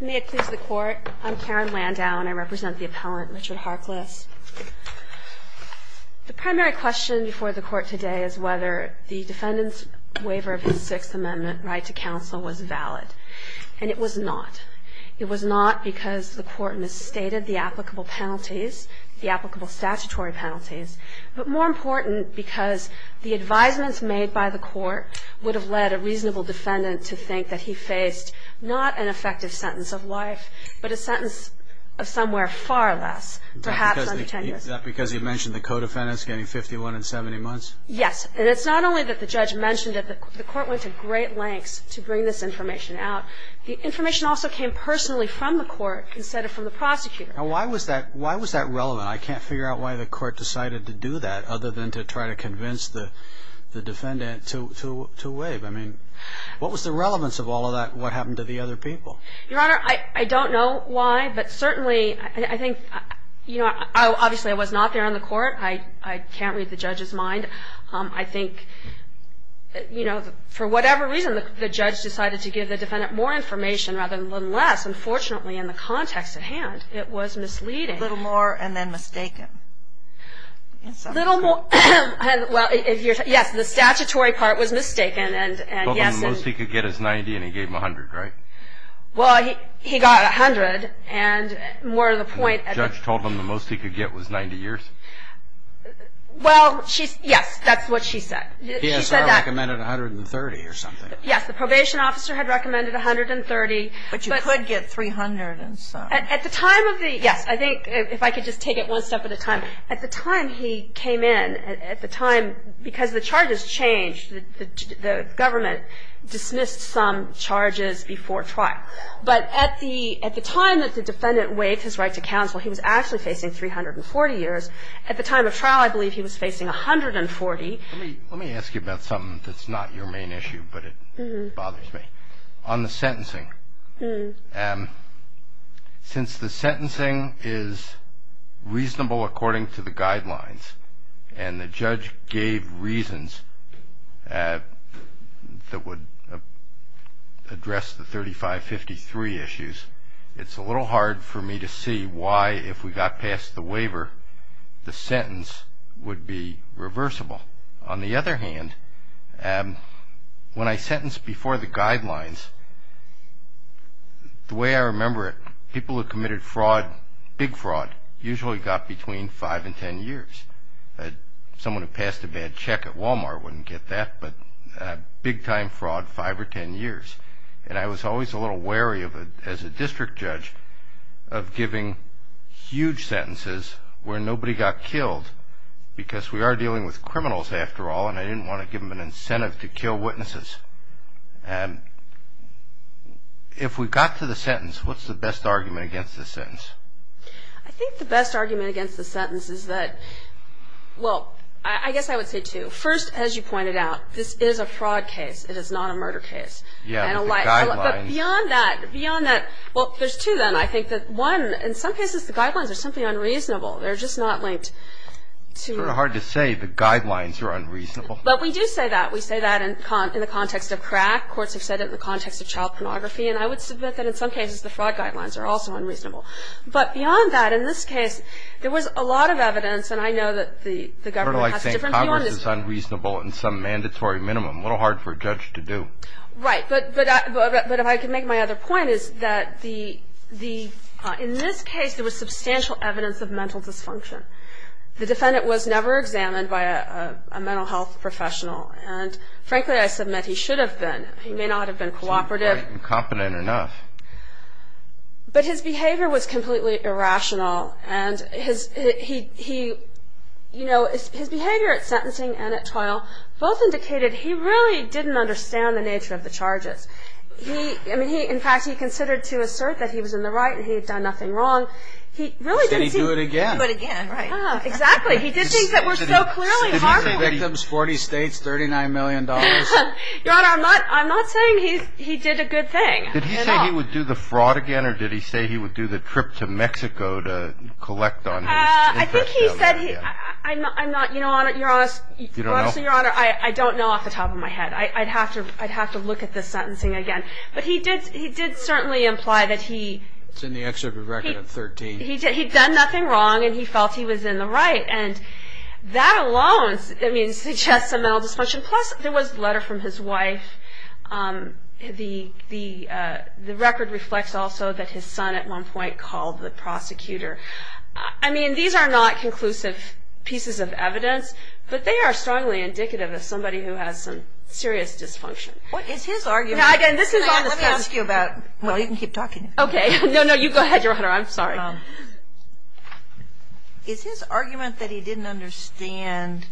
May it please the Court, I'm Karen Landau and I represent the appellant Richard Harkless. The primary question before the Court today is whether the defendant's waiver of his Sixth Amendment right to counsel was valid. And it was not. It was not because the Court misstated the applicable penalties, the applicable statutory penalties, but more important, because the advisements made by the Court would have led a reasonable defendant to think that he faced not an effective sentence of life, but a sentence of somewhere far less, perhaps under 10 years. Is that because he mentioned the co-defendants getting 51 and 70 months? Yes. And it's not only that the judge mentioned that the Court went to great lengths to bring this information out. The information also came personally from the Court instead of from the prosecutor. Now why was that relevant? I can't figure out why the Court decided to do that other than to try to convince the defendant to waive. I mean, what was the relevance of all of that? What happened to the other people? Your Honor, I don't know why, but certainly I think, you know, obviously I was not there on the Court. I can't read the judge's mind. I think, you know, for whatever reason, the judge decided to give the defendant more information rather than less. Unfortunately, in the context at hand, it was misleading. A little more and then mistaken. A little more, well, yes, the statutory part was mistaken. He told them the most he could get is 90 and he gave him 100, right? Well, he got 100 and more to the point. The judge told him the most he could get was 90 years? Well, yes, that's what she said. He said that. He recommended 130 or something. Yes, the probation officer had recommended 130. But you could get 300. At the time of the, yes, I think if I could just take it one step at a time. At the time he came in, at the time, because the charges changed, the government dismissed some charges before trial. But at the time that the defendant waived his right to counsel, he was actually facing 340 years. At the time of trial, I believe he was facing 140. Let me ask you about something that's not your main issue, but it bothers me. On the sentencing, since the sentencing is reasonable according to the guidelines and the judge gave reasons that would address the 3553 issues, it's a little hard for me to see why, if we got past the waiver, the sentence would be reversible. On the other hand, when I sentenced before the guidelines, the way I remember it, people who committed fraud, big fraud, usually got between five and ten years. Someone who passed a bad check at Walmart wouldn't get that, but big-time fraud, five or ten years. And I was always a little wary as a district judge of giving huge sentences where nobody got killed, because we are dealing with criminals, after all, and I didn't want to give them an incentive to kill witnesses. And if we got to the sentence, what's the best argument against the sentence? I think the best argument against the sentence is that, well, I guess I would say two. First, as you pointed out, this is a fraud case. It is not a murder case. Yeah, the guidelines. But beyond that, beyond that, well, there's two, then, I think. One, in some cases, the guidelines are simply unreasonable. They're just not linked to the ---- It's sort of hard to say the guidelines are unreasonable. But we do say that. We say that in the context of crack. Courts have said it in the context of child pornography, and I would submit that in some cases the fraud guidelines are also unreasonable. But beyond that, in this case, there was a lot of evidence, and I know that the government has a different view on this ---- I don't like saying Congress is unreasonable in some mandatory minimum. A little hard for a judge to do. Right. But if I could make my other point is that, in this case, there was substantial evidence of mental dysfunction. The defendant was never examined by a mental health professional, and frankly, I submit he should have been. He may not have been cooperative. He seemed quite incompetent enough. But his behavior was completely irrational, and his behavior at sentencing and at trial both indicated he really didn't understand the nature of the charges. In fact, he considered to assert that he was in the right and he had done nothing wrong. Did he do it again? Exactly. He did things that were so clearly harmful. Victims, 40 states, $39 million. Your Honor, I'm not saying he did a good thing. Did he say he would do the fraud again, or did he say he would do the trip to Mexico to collect on his ---- I think he said he, I'm not, you know, Your Honor, I don't know off the top of my head. I'd have to look at the sentencing again. But he did certainly imply that he, It's in the excerpt of record of 13. He'd done nothing wrong, and he felt he was in the right. And that alone suggests a mental dysfunction. Plus, there was a letter from his wife. The record reflects also that his son at one point called the prosecutor. I mean, these are not conclusive pieces of evidence, but they are strongly indicative of somebody who has some serious dysfunction. What is his argument? Let me ask you about, well, you can keep talking. Okay. No, no, you go ahead, Your Honor. I'm sorry. Is his argument that he didn't understand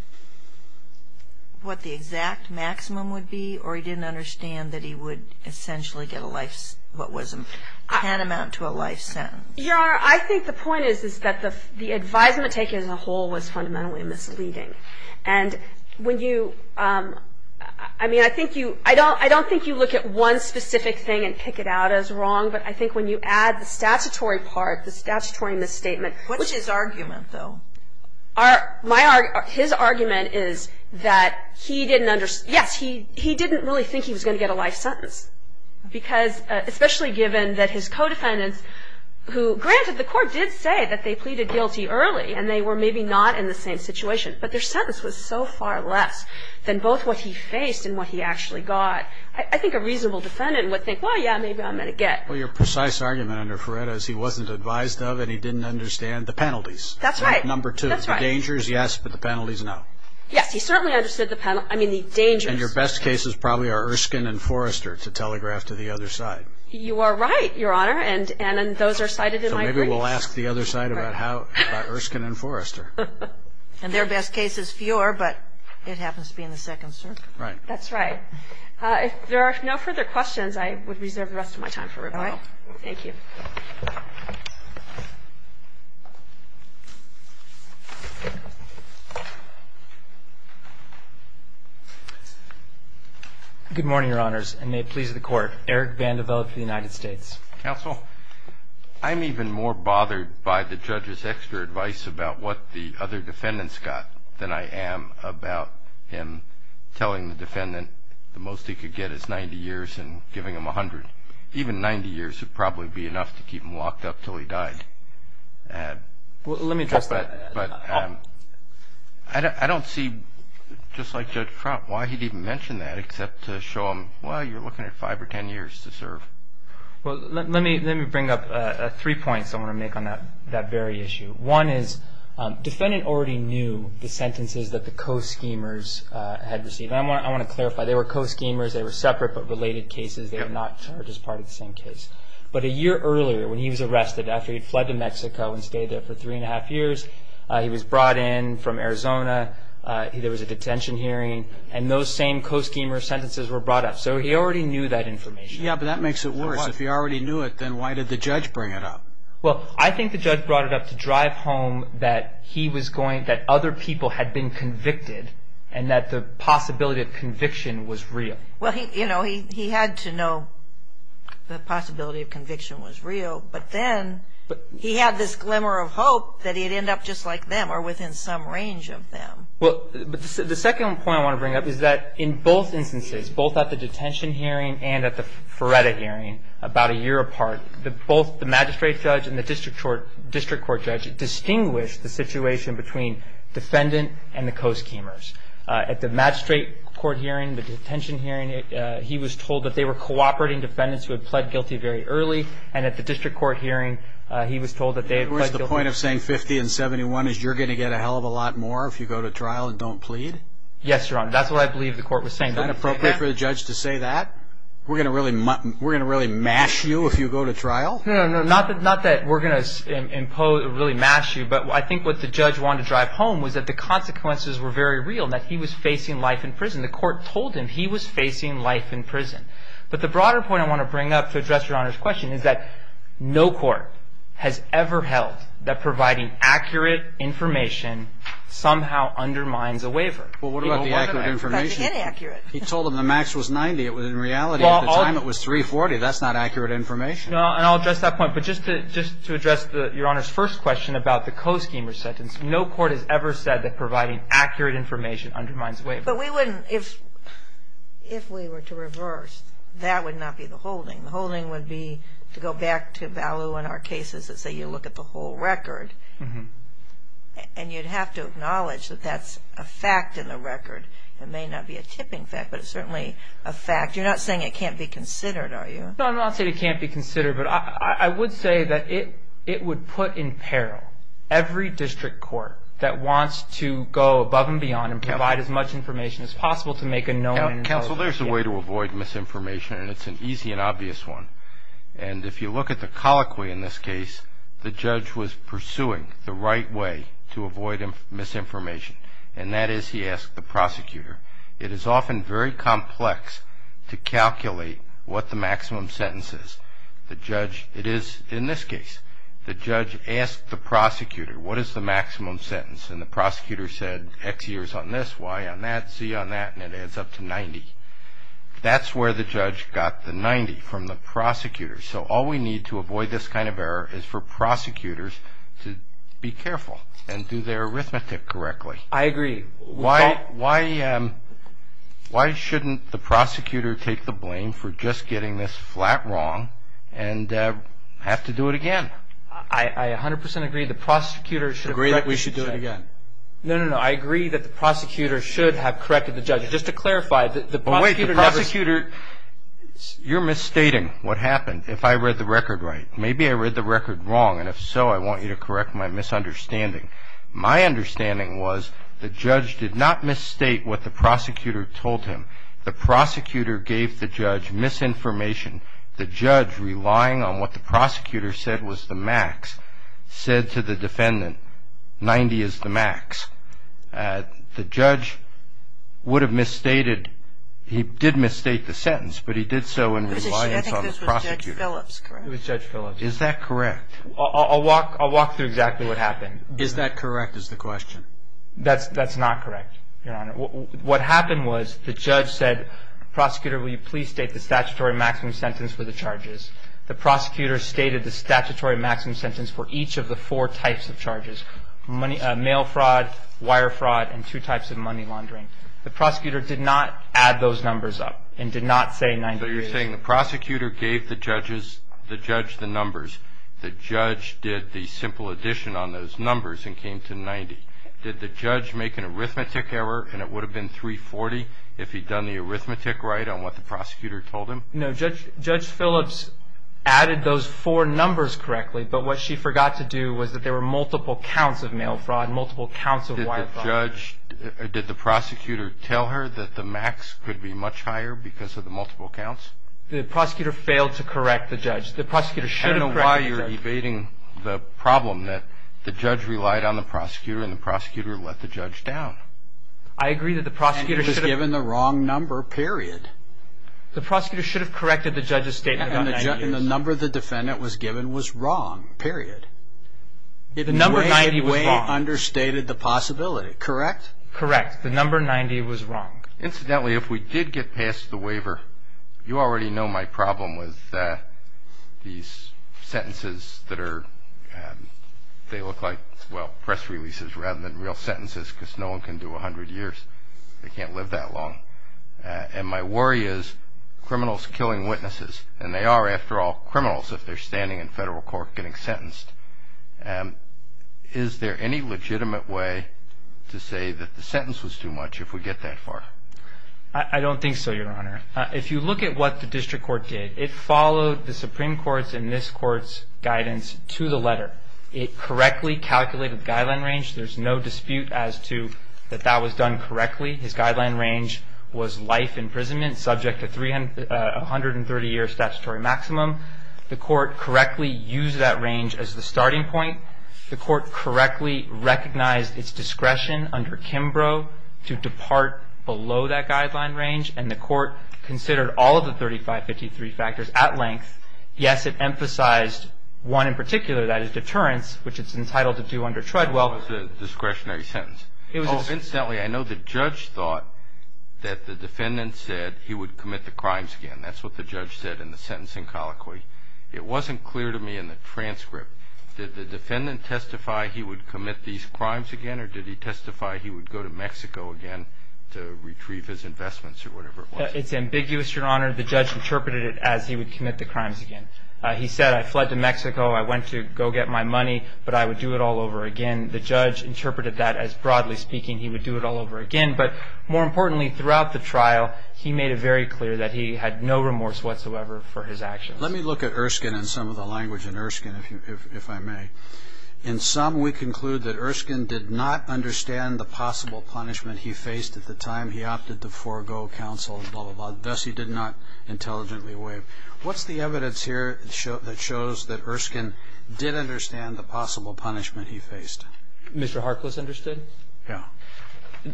what the exact maximum would be, or he didn't understand that he would essentially get a life, what was a tantamount to a life sentence? Your Honor, I think the point is that the advisement taken as a whole was fundamentally misleading. And when you, I mean, I think you, I don't think you look at one specific thing and pick it out as wrong, but I think when you add the statutory part, the statutory misstatement. What's his argument, though? His argument is that he didn't understand, yes, he didn't really think he was going to get a life sentence, because especially given that his co-defendants who, granted, the court did say that they pleaded guilty early, and they were maybe not in the same situation, but their sentence was so far less than both what he faced and what he actually got. I think a reasonable defendant would think, well, yeah, maybe I'm going to get. Well, your precise argument under Feretta is he wasn't advised of and he didn't understand the penalties. That's right. Number two, the dangers, yes, but the penalties, no. Yes, he certainly understood the, I mean, the dangers. And your best cases probably are Erskine and Forrester to telegraph to the other side. You are right, Your Honor, and those are cited in my briefs. So maybe we'll ask the other side about Erskine and Forrester. And their best case is fewer, but it happens to be in the second, sir. Right. That's right. If there are no further questions, I would reserve the rest of my time for rebuttal. Thank you. Good morning, Your Honors, and may it please the Court. Eric Vandiver of the United States. Counsel. I'm even more bothered by the judge's extra advice about what the other defendants got than I am about him telling the defendant the most he could get is 90 years and giving him 100. Even 90 years would probably be enough to keep him locked up until he died. Let me address that. I don't see, just like Judge Trout, why he'd even mention that except to show him, well, you're looking at five or ten years to serve. Well, let me bring up three points I want to make on that very issue. One is defendant already knew the sentences that the co-schemers had received. I want to clarify. They were co-schemers. They were separate but related cases. They were not charged as part of the same case. But a year earlier when he was arrested after he had fled to Mexico and stayed there for three and a half years, he was brought in from Arizona. There was a detention hearing. And those same co-schemer sentences were brought up. So he already knew that information. Yeah, but that makes it worse. If he already knew it, then why did the judge bring it up? Well, I think the judge brought it up to drive home that he was going, that other people had been convicted and that the possibility of conviction was real. Well, you know, he had to know the possibility of conviction was real. But then he had this glimmer of hope that he'd end up just like them or within some range of them. Well, the second point I want to bring up is that in both instances, both at the detention hearing and at the FREDA hearing about a year apart, both the magistrate judge and the district court judge distinguished the situation between defendant and the co-schemers. At the magistrate court hearing, the detention hearing, he was told that they were cooperating defendants who had pled guilty very early. And at the district court hearing, he was told that they had pled guilty. The point of saying 50 and 71 is you're going to get a hell of a lot more if you go to trial and don't plead? Yes, Your Honor. That's what I believe the court was saying. Isn't it appropriate for the judge to say that? We're going to really mash you if you go to trial? No, not that we're going to really mash you, but I think what the judge wanted to drive home was that the consequences were very real, that he was facing life in prison. The court told him he was facing life in prison. But the broader point I want to bring up to address Your Honor's question is that no court has ever held that providing accurate information somehow undermines a waiver. Well, what about the accurate information? It's actually inaccurate. He told him the max was 90. It was in reality at the time it was 340. That's not accurate information. No, and I'll address that point. But just to address Your Honor's first question about the co-schemer sentence, no court has ever said that providing accurate information undermines a waiver. But we wouldn't, if we were to reverse, that would not be the holding. The holding would be to go back to Ballou and our cases that say you look at the whole record, and you'd have to acknowledge that that's a fact in the record. It may not be a tipping fact, but it's certainly a fact. You're not saying it can't be considered, are you? No, I'm not saying it can't be considered, but I would say that it would put in peril every district court that wants to go well, we're going to have to acknowledge information. It's possible to make a known involvement. Counsel, there's a way to avoid misinformation, and it's an easy and obvious one. And if you look at the colloquy in this case, the judge was pursuing the right way to avoid misinformation, and that is he asked the prosecutor. It is often very complex to calculate what the maximum sentence is. The judge, it is in this case, the judge asked the prosecutor, what is the maximum sentence? And the prosecutor said X years on this, Y on that, Z on that, and it adds up to 90. That's where the judge got the 90 from the prosecutor. So all we need to avoid this kind of error is for prosecutors to be careful and do their arithmetic correctly. I agree. Why shouldn't the prosecutor take the blame for just getting this flat wrong and have to do it again? I 100% agree. The prosecutor should have corrected the judge. Agree that we should do it again. No, no, no. I agree that the prosecutor should have corrected the judge. Just to clarify, the prosecutor never ---- Well, wait. The prosecutor, you're misstating what happened. If I read the record right, maybe I read the record wrong, and if so I want you to correct my misunderstanding. My understanding was the judge did not misstate what the prosecutor told him. The prosecutor gave the judge misinformation. The judge, relying on what the prosecutor said was the max, said to the defendant, 90 is the max. The judge would have misstated. He did misstate the sentence, but he did so in reliance on the prosecutor. I think this was Judge Phillips, correct? It was Judge Phillips. Is that correct? I'll walk through exactly what happened. Is that correct is the question? That's not correct, Your Honor. What happened was the judge said, Prosecutor, will you please state the statutory maximum sentence for the charges. The prosecutor stated the statutory maximum sentence for each of the four types of charges, mail fraud, wire fraud, and two types of money laundering. The prosecutor did not add those numbers up and did not say 90. So you're saying the prosecutor gave the judge the numbers. The judge did the simple addition on those numbers and came to 90. Did the judge make an arithmetic error, and it would have been 340 if he'd done the arithmetic right on what the prosecutor told him? No. Judge Phillips added those four numbers correctly, but what she forgot to do was that there were multiple counts of mail fraud and multiple counts of wire fraud. Did the prosecutor tell her that the max could be much higher because of the multiple counts? The prosecutor failed to correct the judge. The prosecutor should have corrected the judge. I don't know why you're debating the problem that the judge relied on the prosecutor and the prosecutor let the judge down. I agree that the prosecutor should have. And he was given the wrong number, period. The prosecutor should have corrected the judge's statement about 90. And the number the defendant was given was wrong, period. The number 90 was wrong. It in a way understated the possibility, correct? Correct. The number 90 was wrong. Incidentally, if we did get past the waiver, you already know my problem with these sentences that are, they look like, well, they can't live that long. And my worry is criminals killing witnesses. And they are, after all, criminals if they're standing in federal court getting sentenced. Is there any legitimate way to say that the sentence was too much if we get that far? I don't think so, Your Honor. If you look at what the district court did, it followed the Supreme Court's and this Court's guidance to the letter. It correctly calculated the guideline range. There's no dispute as to that that was done correctly. His guideline range was life imprisonment subject to a 130-year statutory maximum. The court correctly used that range as the starting point. The court correctly recognized its discretion under Kimbrough to depart below that guideline range. And the court considered all of the 3553 factors at length. Yes, it emphasized one in particular, that is deterrence, which it's entitled to do under Treadwell. It was a discretionary sentence. Incidentally, I know the judge thought that the defendant said he would commit the crimes again. That's what the judge said in the sentencing colloquy. It wasn't clear to me in the transcript. Did the defendant testify he would commit these crimes again, or did he testify he would go to Mexico again to retrieve his investments or whatever it was? It's ambiguous, Your Honor. The judge interpreted it as he would commit the crimes again. He said, I fled to Mexico, I went to go get my money, but I would do it all over again. The judge interpreted that as, broadly speaking, he would do it all over again. But more importantly, throughout the trial, he made it very clear that he had no remorse whatsoever for his actions. Let me look at Erskine and some of the language in Erskine, if I may. In sum, we conclude that Erskine did not understand the possible punishment he faced at the time. He opted to forego counsel, and thus he did not intelligently waive. What's the evidence here that shows that Erskine did understand the possible punishment he faced? Mr. Harkless understood? Yeah.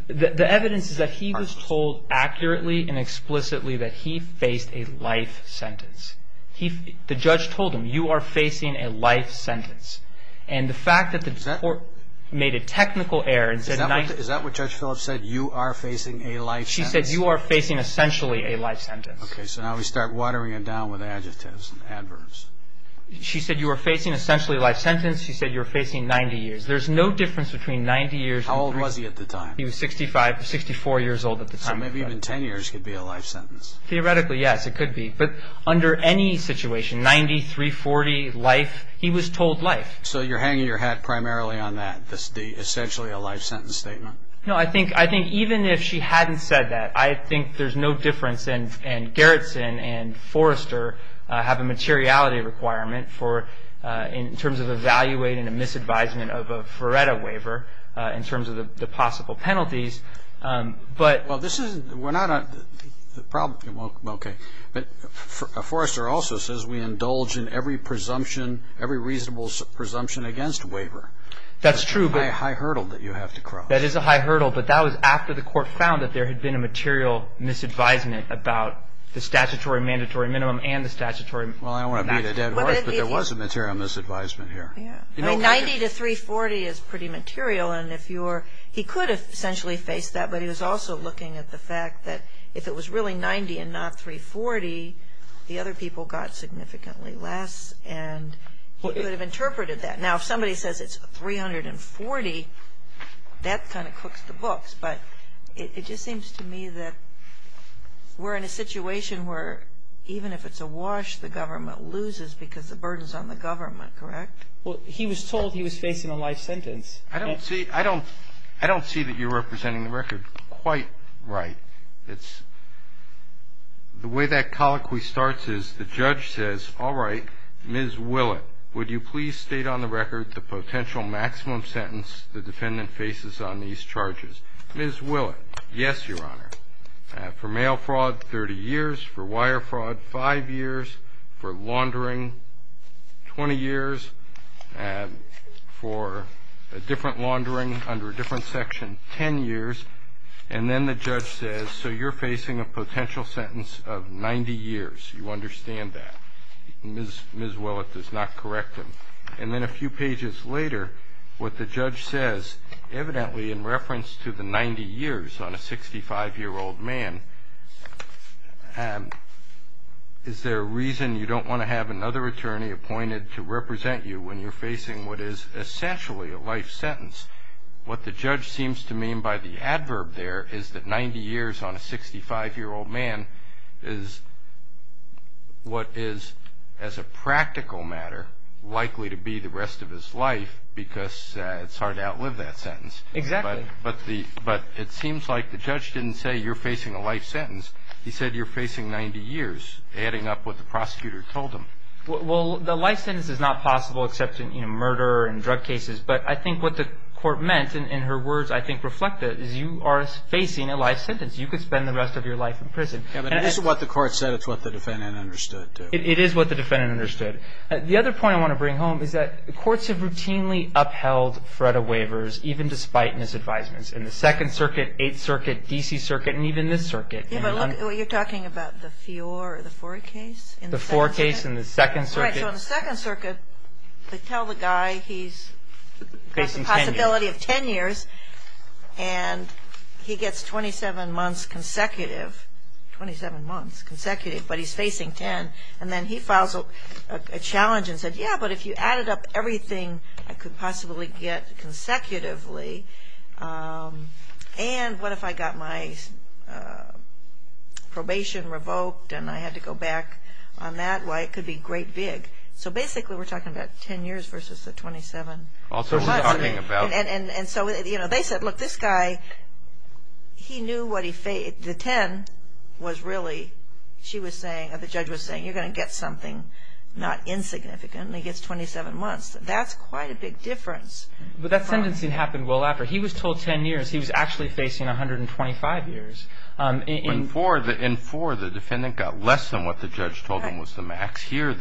The evidence is that he was told accurately and explicitly that he faced a life sentence. The judge told him, you are facing a life sentence. And the fact that the court made a technical error and said, Is that what Judge Phillips said, you are facing a life sentence? She said, you are facing essentially a life sentence. Okay, so now we start watering it down with adjectives and adverbs. She said, you are facing essentially a life sentence. She said, you are facing 90 years. There's no difference between 90 years and three. How old was he at the time? He was 65, 64 years old at the time. So maybe even 10 years could be a life sentence. Theoretically, yes, it could be. But under any situation, 90, 340, life, he was told life. So you're hanging your hat primarily on that, the essentially a life sentence statement? No, I think even if she hadn't said that, I think there's no difference, and Gerritsen and Forrester have a materiality requirement in terms of evaluating a misadvisement of a FRERETA waiver in terms of the possible penalties. Well, this is – we're not – the problem – okay. But Forrester also says we indulge in every presumption, every reasonable presumption against waiver. That's true. That's a high hurdle that you have to cross. That is a high hurdle. But that was after the court found that there had been a material misadvisement about the statutory mandatory minimum and the statutory – Well, I don't want to beat a dead horse, but there was a material misadvisement here. 90 to 340 is pretty material. And if you're – he could have essentially faced that, but he was also looking at the fact that if it was really 90 and not 340, the other people got significantly less, and he could have interpreted that. Now, if somebody says it's 340, that kind of cooks the books. But it just seems to me that we're in a situation where even if it's a wash, the government loses because the burden is on the government, correct? Well, he was told he was facing a life sentence. I don't see – I don't see that you're representing the record quite right. It's – the way that colloquy starts is the judge says, all right, Ms. Willett, would you please state on the record the potential maximum sentence the defendant faces on these charges? Ms. Willett, yes, Your Honor. For mail fraud, 30 years. For wire fraud, 5 years. For laundering, 20 years. For a different laundering under a different section, 10 years. And then the judge says, so you're facing a potential sentence of 90 years. You understand that? Ms. Willett does not correct him. And then a few pages later, what the judge says, evidently in reference to the 90 years on a 65-year-old man, is there a reason you don't want to have another attorney appointed to represent you when you're facing what is essentially a life sentence? What the judge seems to mean by the adverb there is that 90 years on a 65-year-old man is what is as a practical matter likely to be the rest of his life because it's hard to outlive that sentence. Exactly. But it seems like the judge didn't say you're facing a life sentence. He said you're facing 90 years, adding up what the prosecutor told him. Well, the life sentence is not possible except in murder and drug cases. But I think what the court meant, and her words I think reflect it, is you are facing a life sentence. You could spend the rest of your life in prison. This is what the court said. It's what the defendant understood, too. It is what the defendant understood. The other point I want to bring home is that courts have routinely upheld FREDA waivers, even despite misadvisements in the Second Circuit, Eighth Circuit, D.C. Circuit, and even this circuit. You're talking about the Fiore case? The Fiore case in the Second Circuit. Right. So in the Second Circuit, they tell the guy he's got the possibility of 10 years, and he gets 27 months consecutive. Twenty-seven months consecutive, but he's facing 10. And then he files a challenge and said, yeah, but if you added up everything I could possibly get consecutively, and what if I got my probation revoked and I had to go back on that? Why, it could be great big. So basically we're talking about 10 years versus the 27 months. And so they said, look, this guy, he knew what he faced. The 10 was really, she was saying, or the judge was saying, you're going to get something not insignificant, and he gets 27 months. That's quite a big difference. But that sentencing happened well after. He was told 10 years. He was actually facing 125 years. In four, the defendant got less than what the judge told him was the max. Four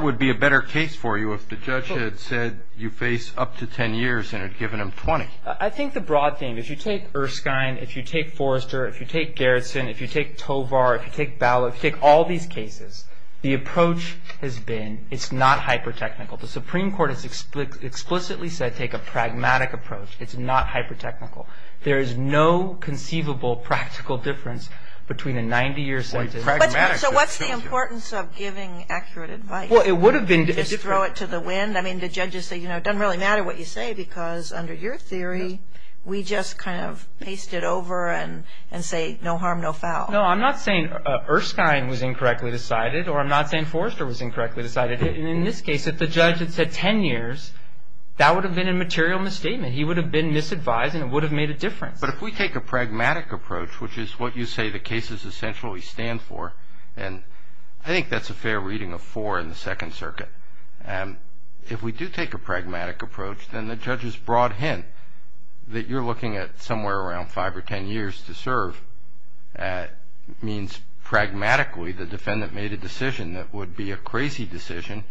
would be a better case for you if the judge had said you face up to 10 years and had given him 20. I think the broad thing, if you take Erskine, if you take Forrester, if you take Garrison, if you take Tovar, if you take Ballot, if you take all these cases, the approach has been it's not hyper-technical. The Supreme Court has explicitly said take a pragmatic approach. It's not hyper-technical. There is no conceivable practical difference between a 90-year sentence. So what's the importance of giving accurate advice? Well, it would have been different. Just throw it to the wind? I mean, the judges say, you know, it doesn't really matter what you say because under your theory, we just kind of paste it over and say no harm, no foul. No, I'm not saying Erskine was incorrectly decided, or I'm not saying Forrester was incorrectly decided. In this case, if the judge had said 10 years, that would have been a material misstatement. He would have been misadvised, and it would have made a difference. But if we take a pragmatic approach, which is what you say the cases essentially stand for, and I think that's a fair reading of Forre and the Second Circuit. If we do take a pragmatic approach, then the judge's broad hint that you're looking at somewhere around 5 or 10 years to serve means pragmatically the defendant made a decision that would be a crazy decision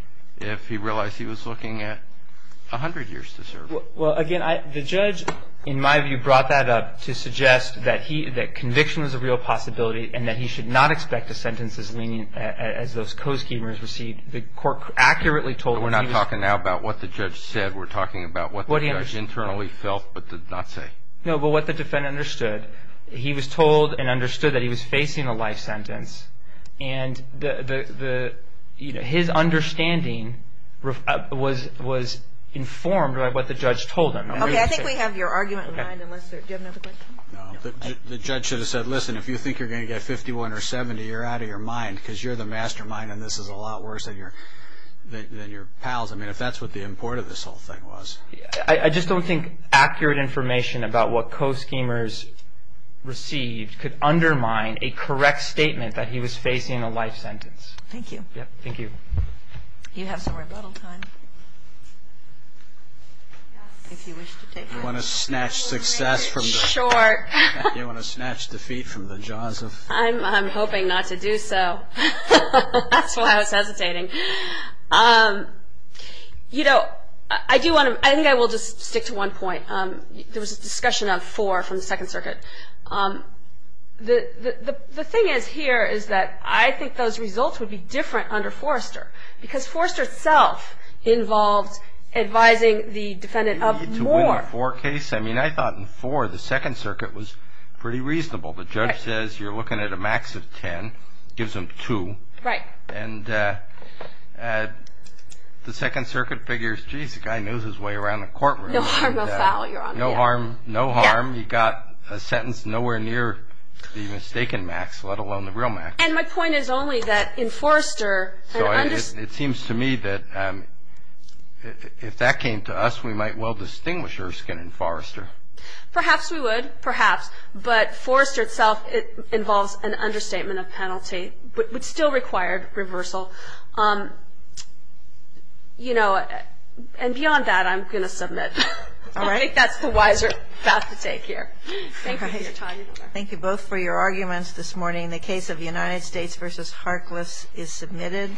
Well, again, the judge, in my view, brought that up to suggest that conviction was a real possibility and that he should not expect a sentence as lenient as those co-schemers received. The court accurately told us he was But we're not talking now about what the judge said. We're talking about what the judge internally felt but did not say. No, but what the defendant understood, he was told and understood that he was facing a life sentence, and his understanding was informed by what the judge told him. Okay, I think we have your argument in mind. Do you have another question? No, the judge should have said, listen, if you think you're going to get 51 or 70, you're out of your mind because you're the mastermind and this is a lot worse than your pals. I mean, if that's what the import of this whole thing was. I just don't think accurate information about what co-schemers received could undermine a correct statement that he was facing a life sentence. Thank you. Thank you. You have some rebuttal time. If you wish to take it. You want to snatch success from the- Sure. You want to snatch defeat from the jaws of- I'm hoping not to do so. That's why I was hesitating. You know, I do want to- I think I will just stick to one point. There was a discussion of four from the Second Circuit. The thing is here is that I think those results would be different under Forrester because Forrester itself involved advising the defendant of more. To win a four case? I mean, I thought in four the Second Circuit was pretty reasonable. The judge says you're looking at a max of ten, gives them two. Right. And the Second Circuit figures, jeez, the guy knows his way around the courtroom. No harm, no foul. You're on the air. No harm, no harm. You got a sentence nowhere near the mistaken max, let alone the real max. And my point is only that in Forrester- It seems to me that if that came to us, we might well distinguish Erskine and Forrester. Perhaps we would, perhaps. But Forrester itself involves an understatement of penalty, but still required reversal. You know, and beyond that I'm going to submit. All right. I think that's the wiser path to take here. Thank you for your time. Thank you both for your arguments this morning. The case of United States v. Harkless is submitted.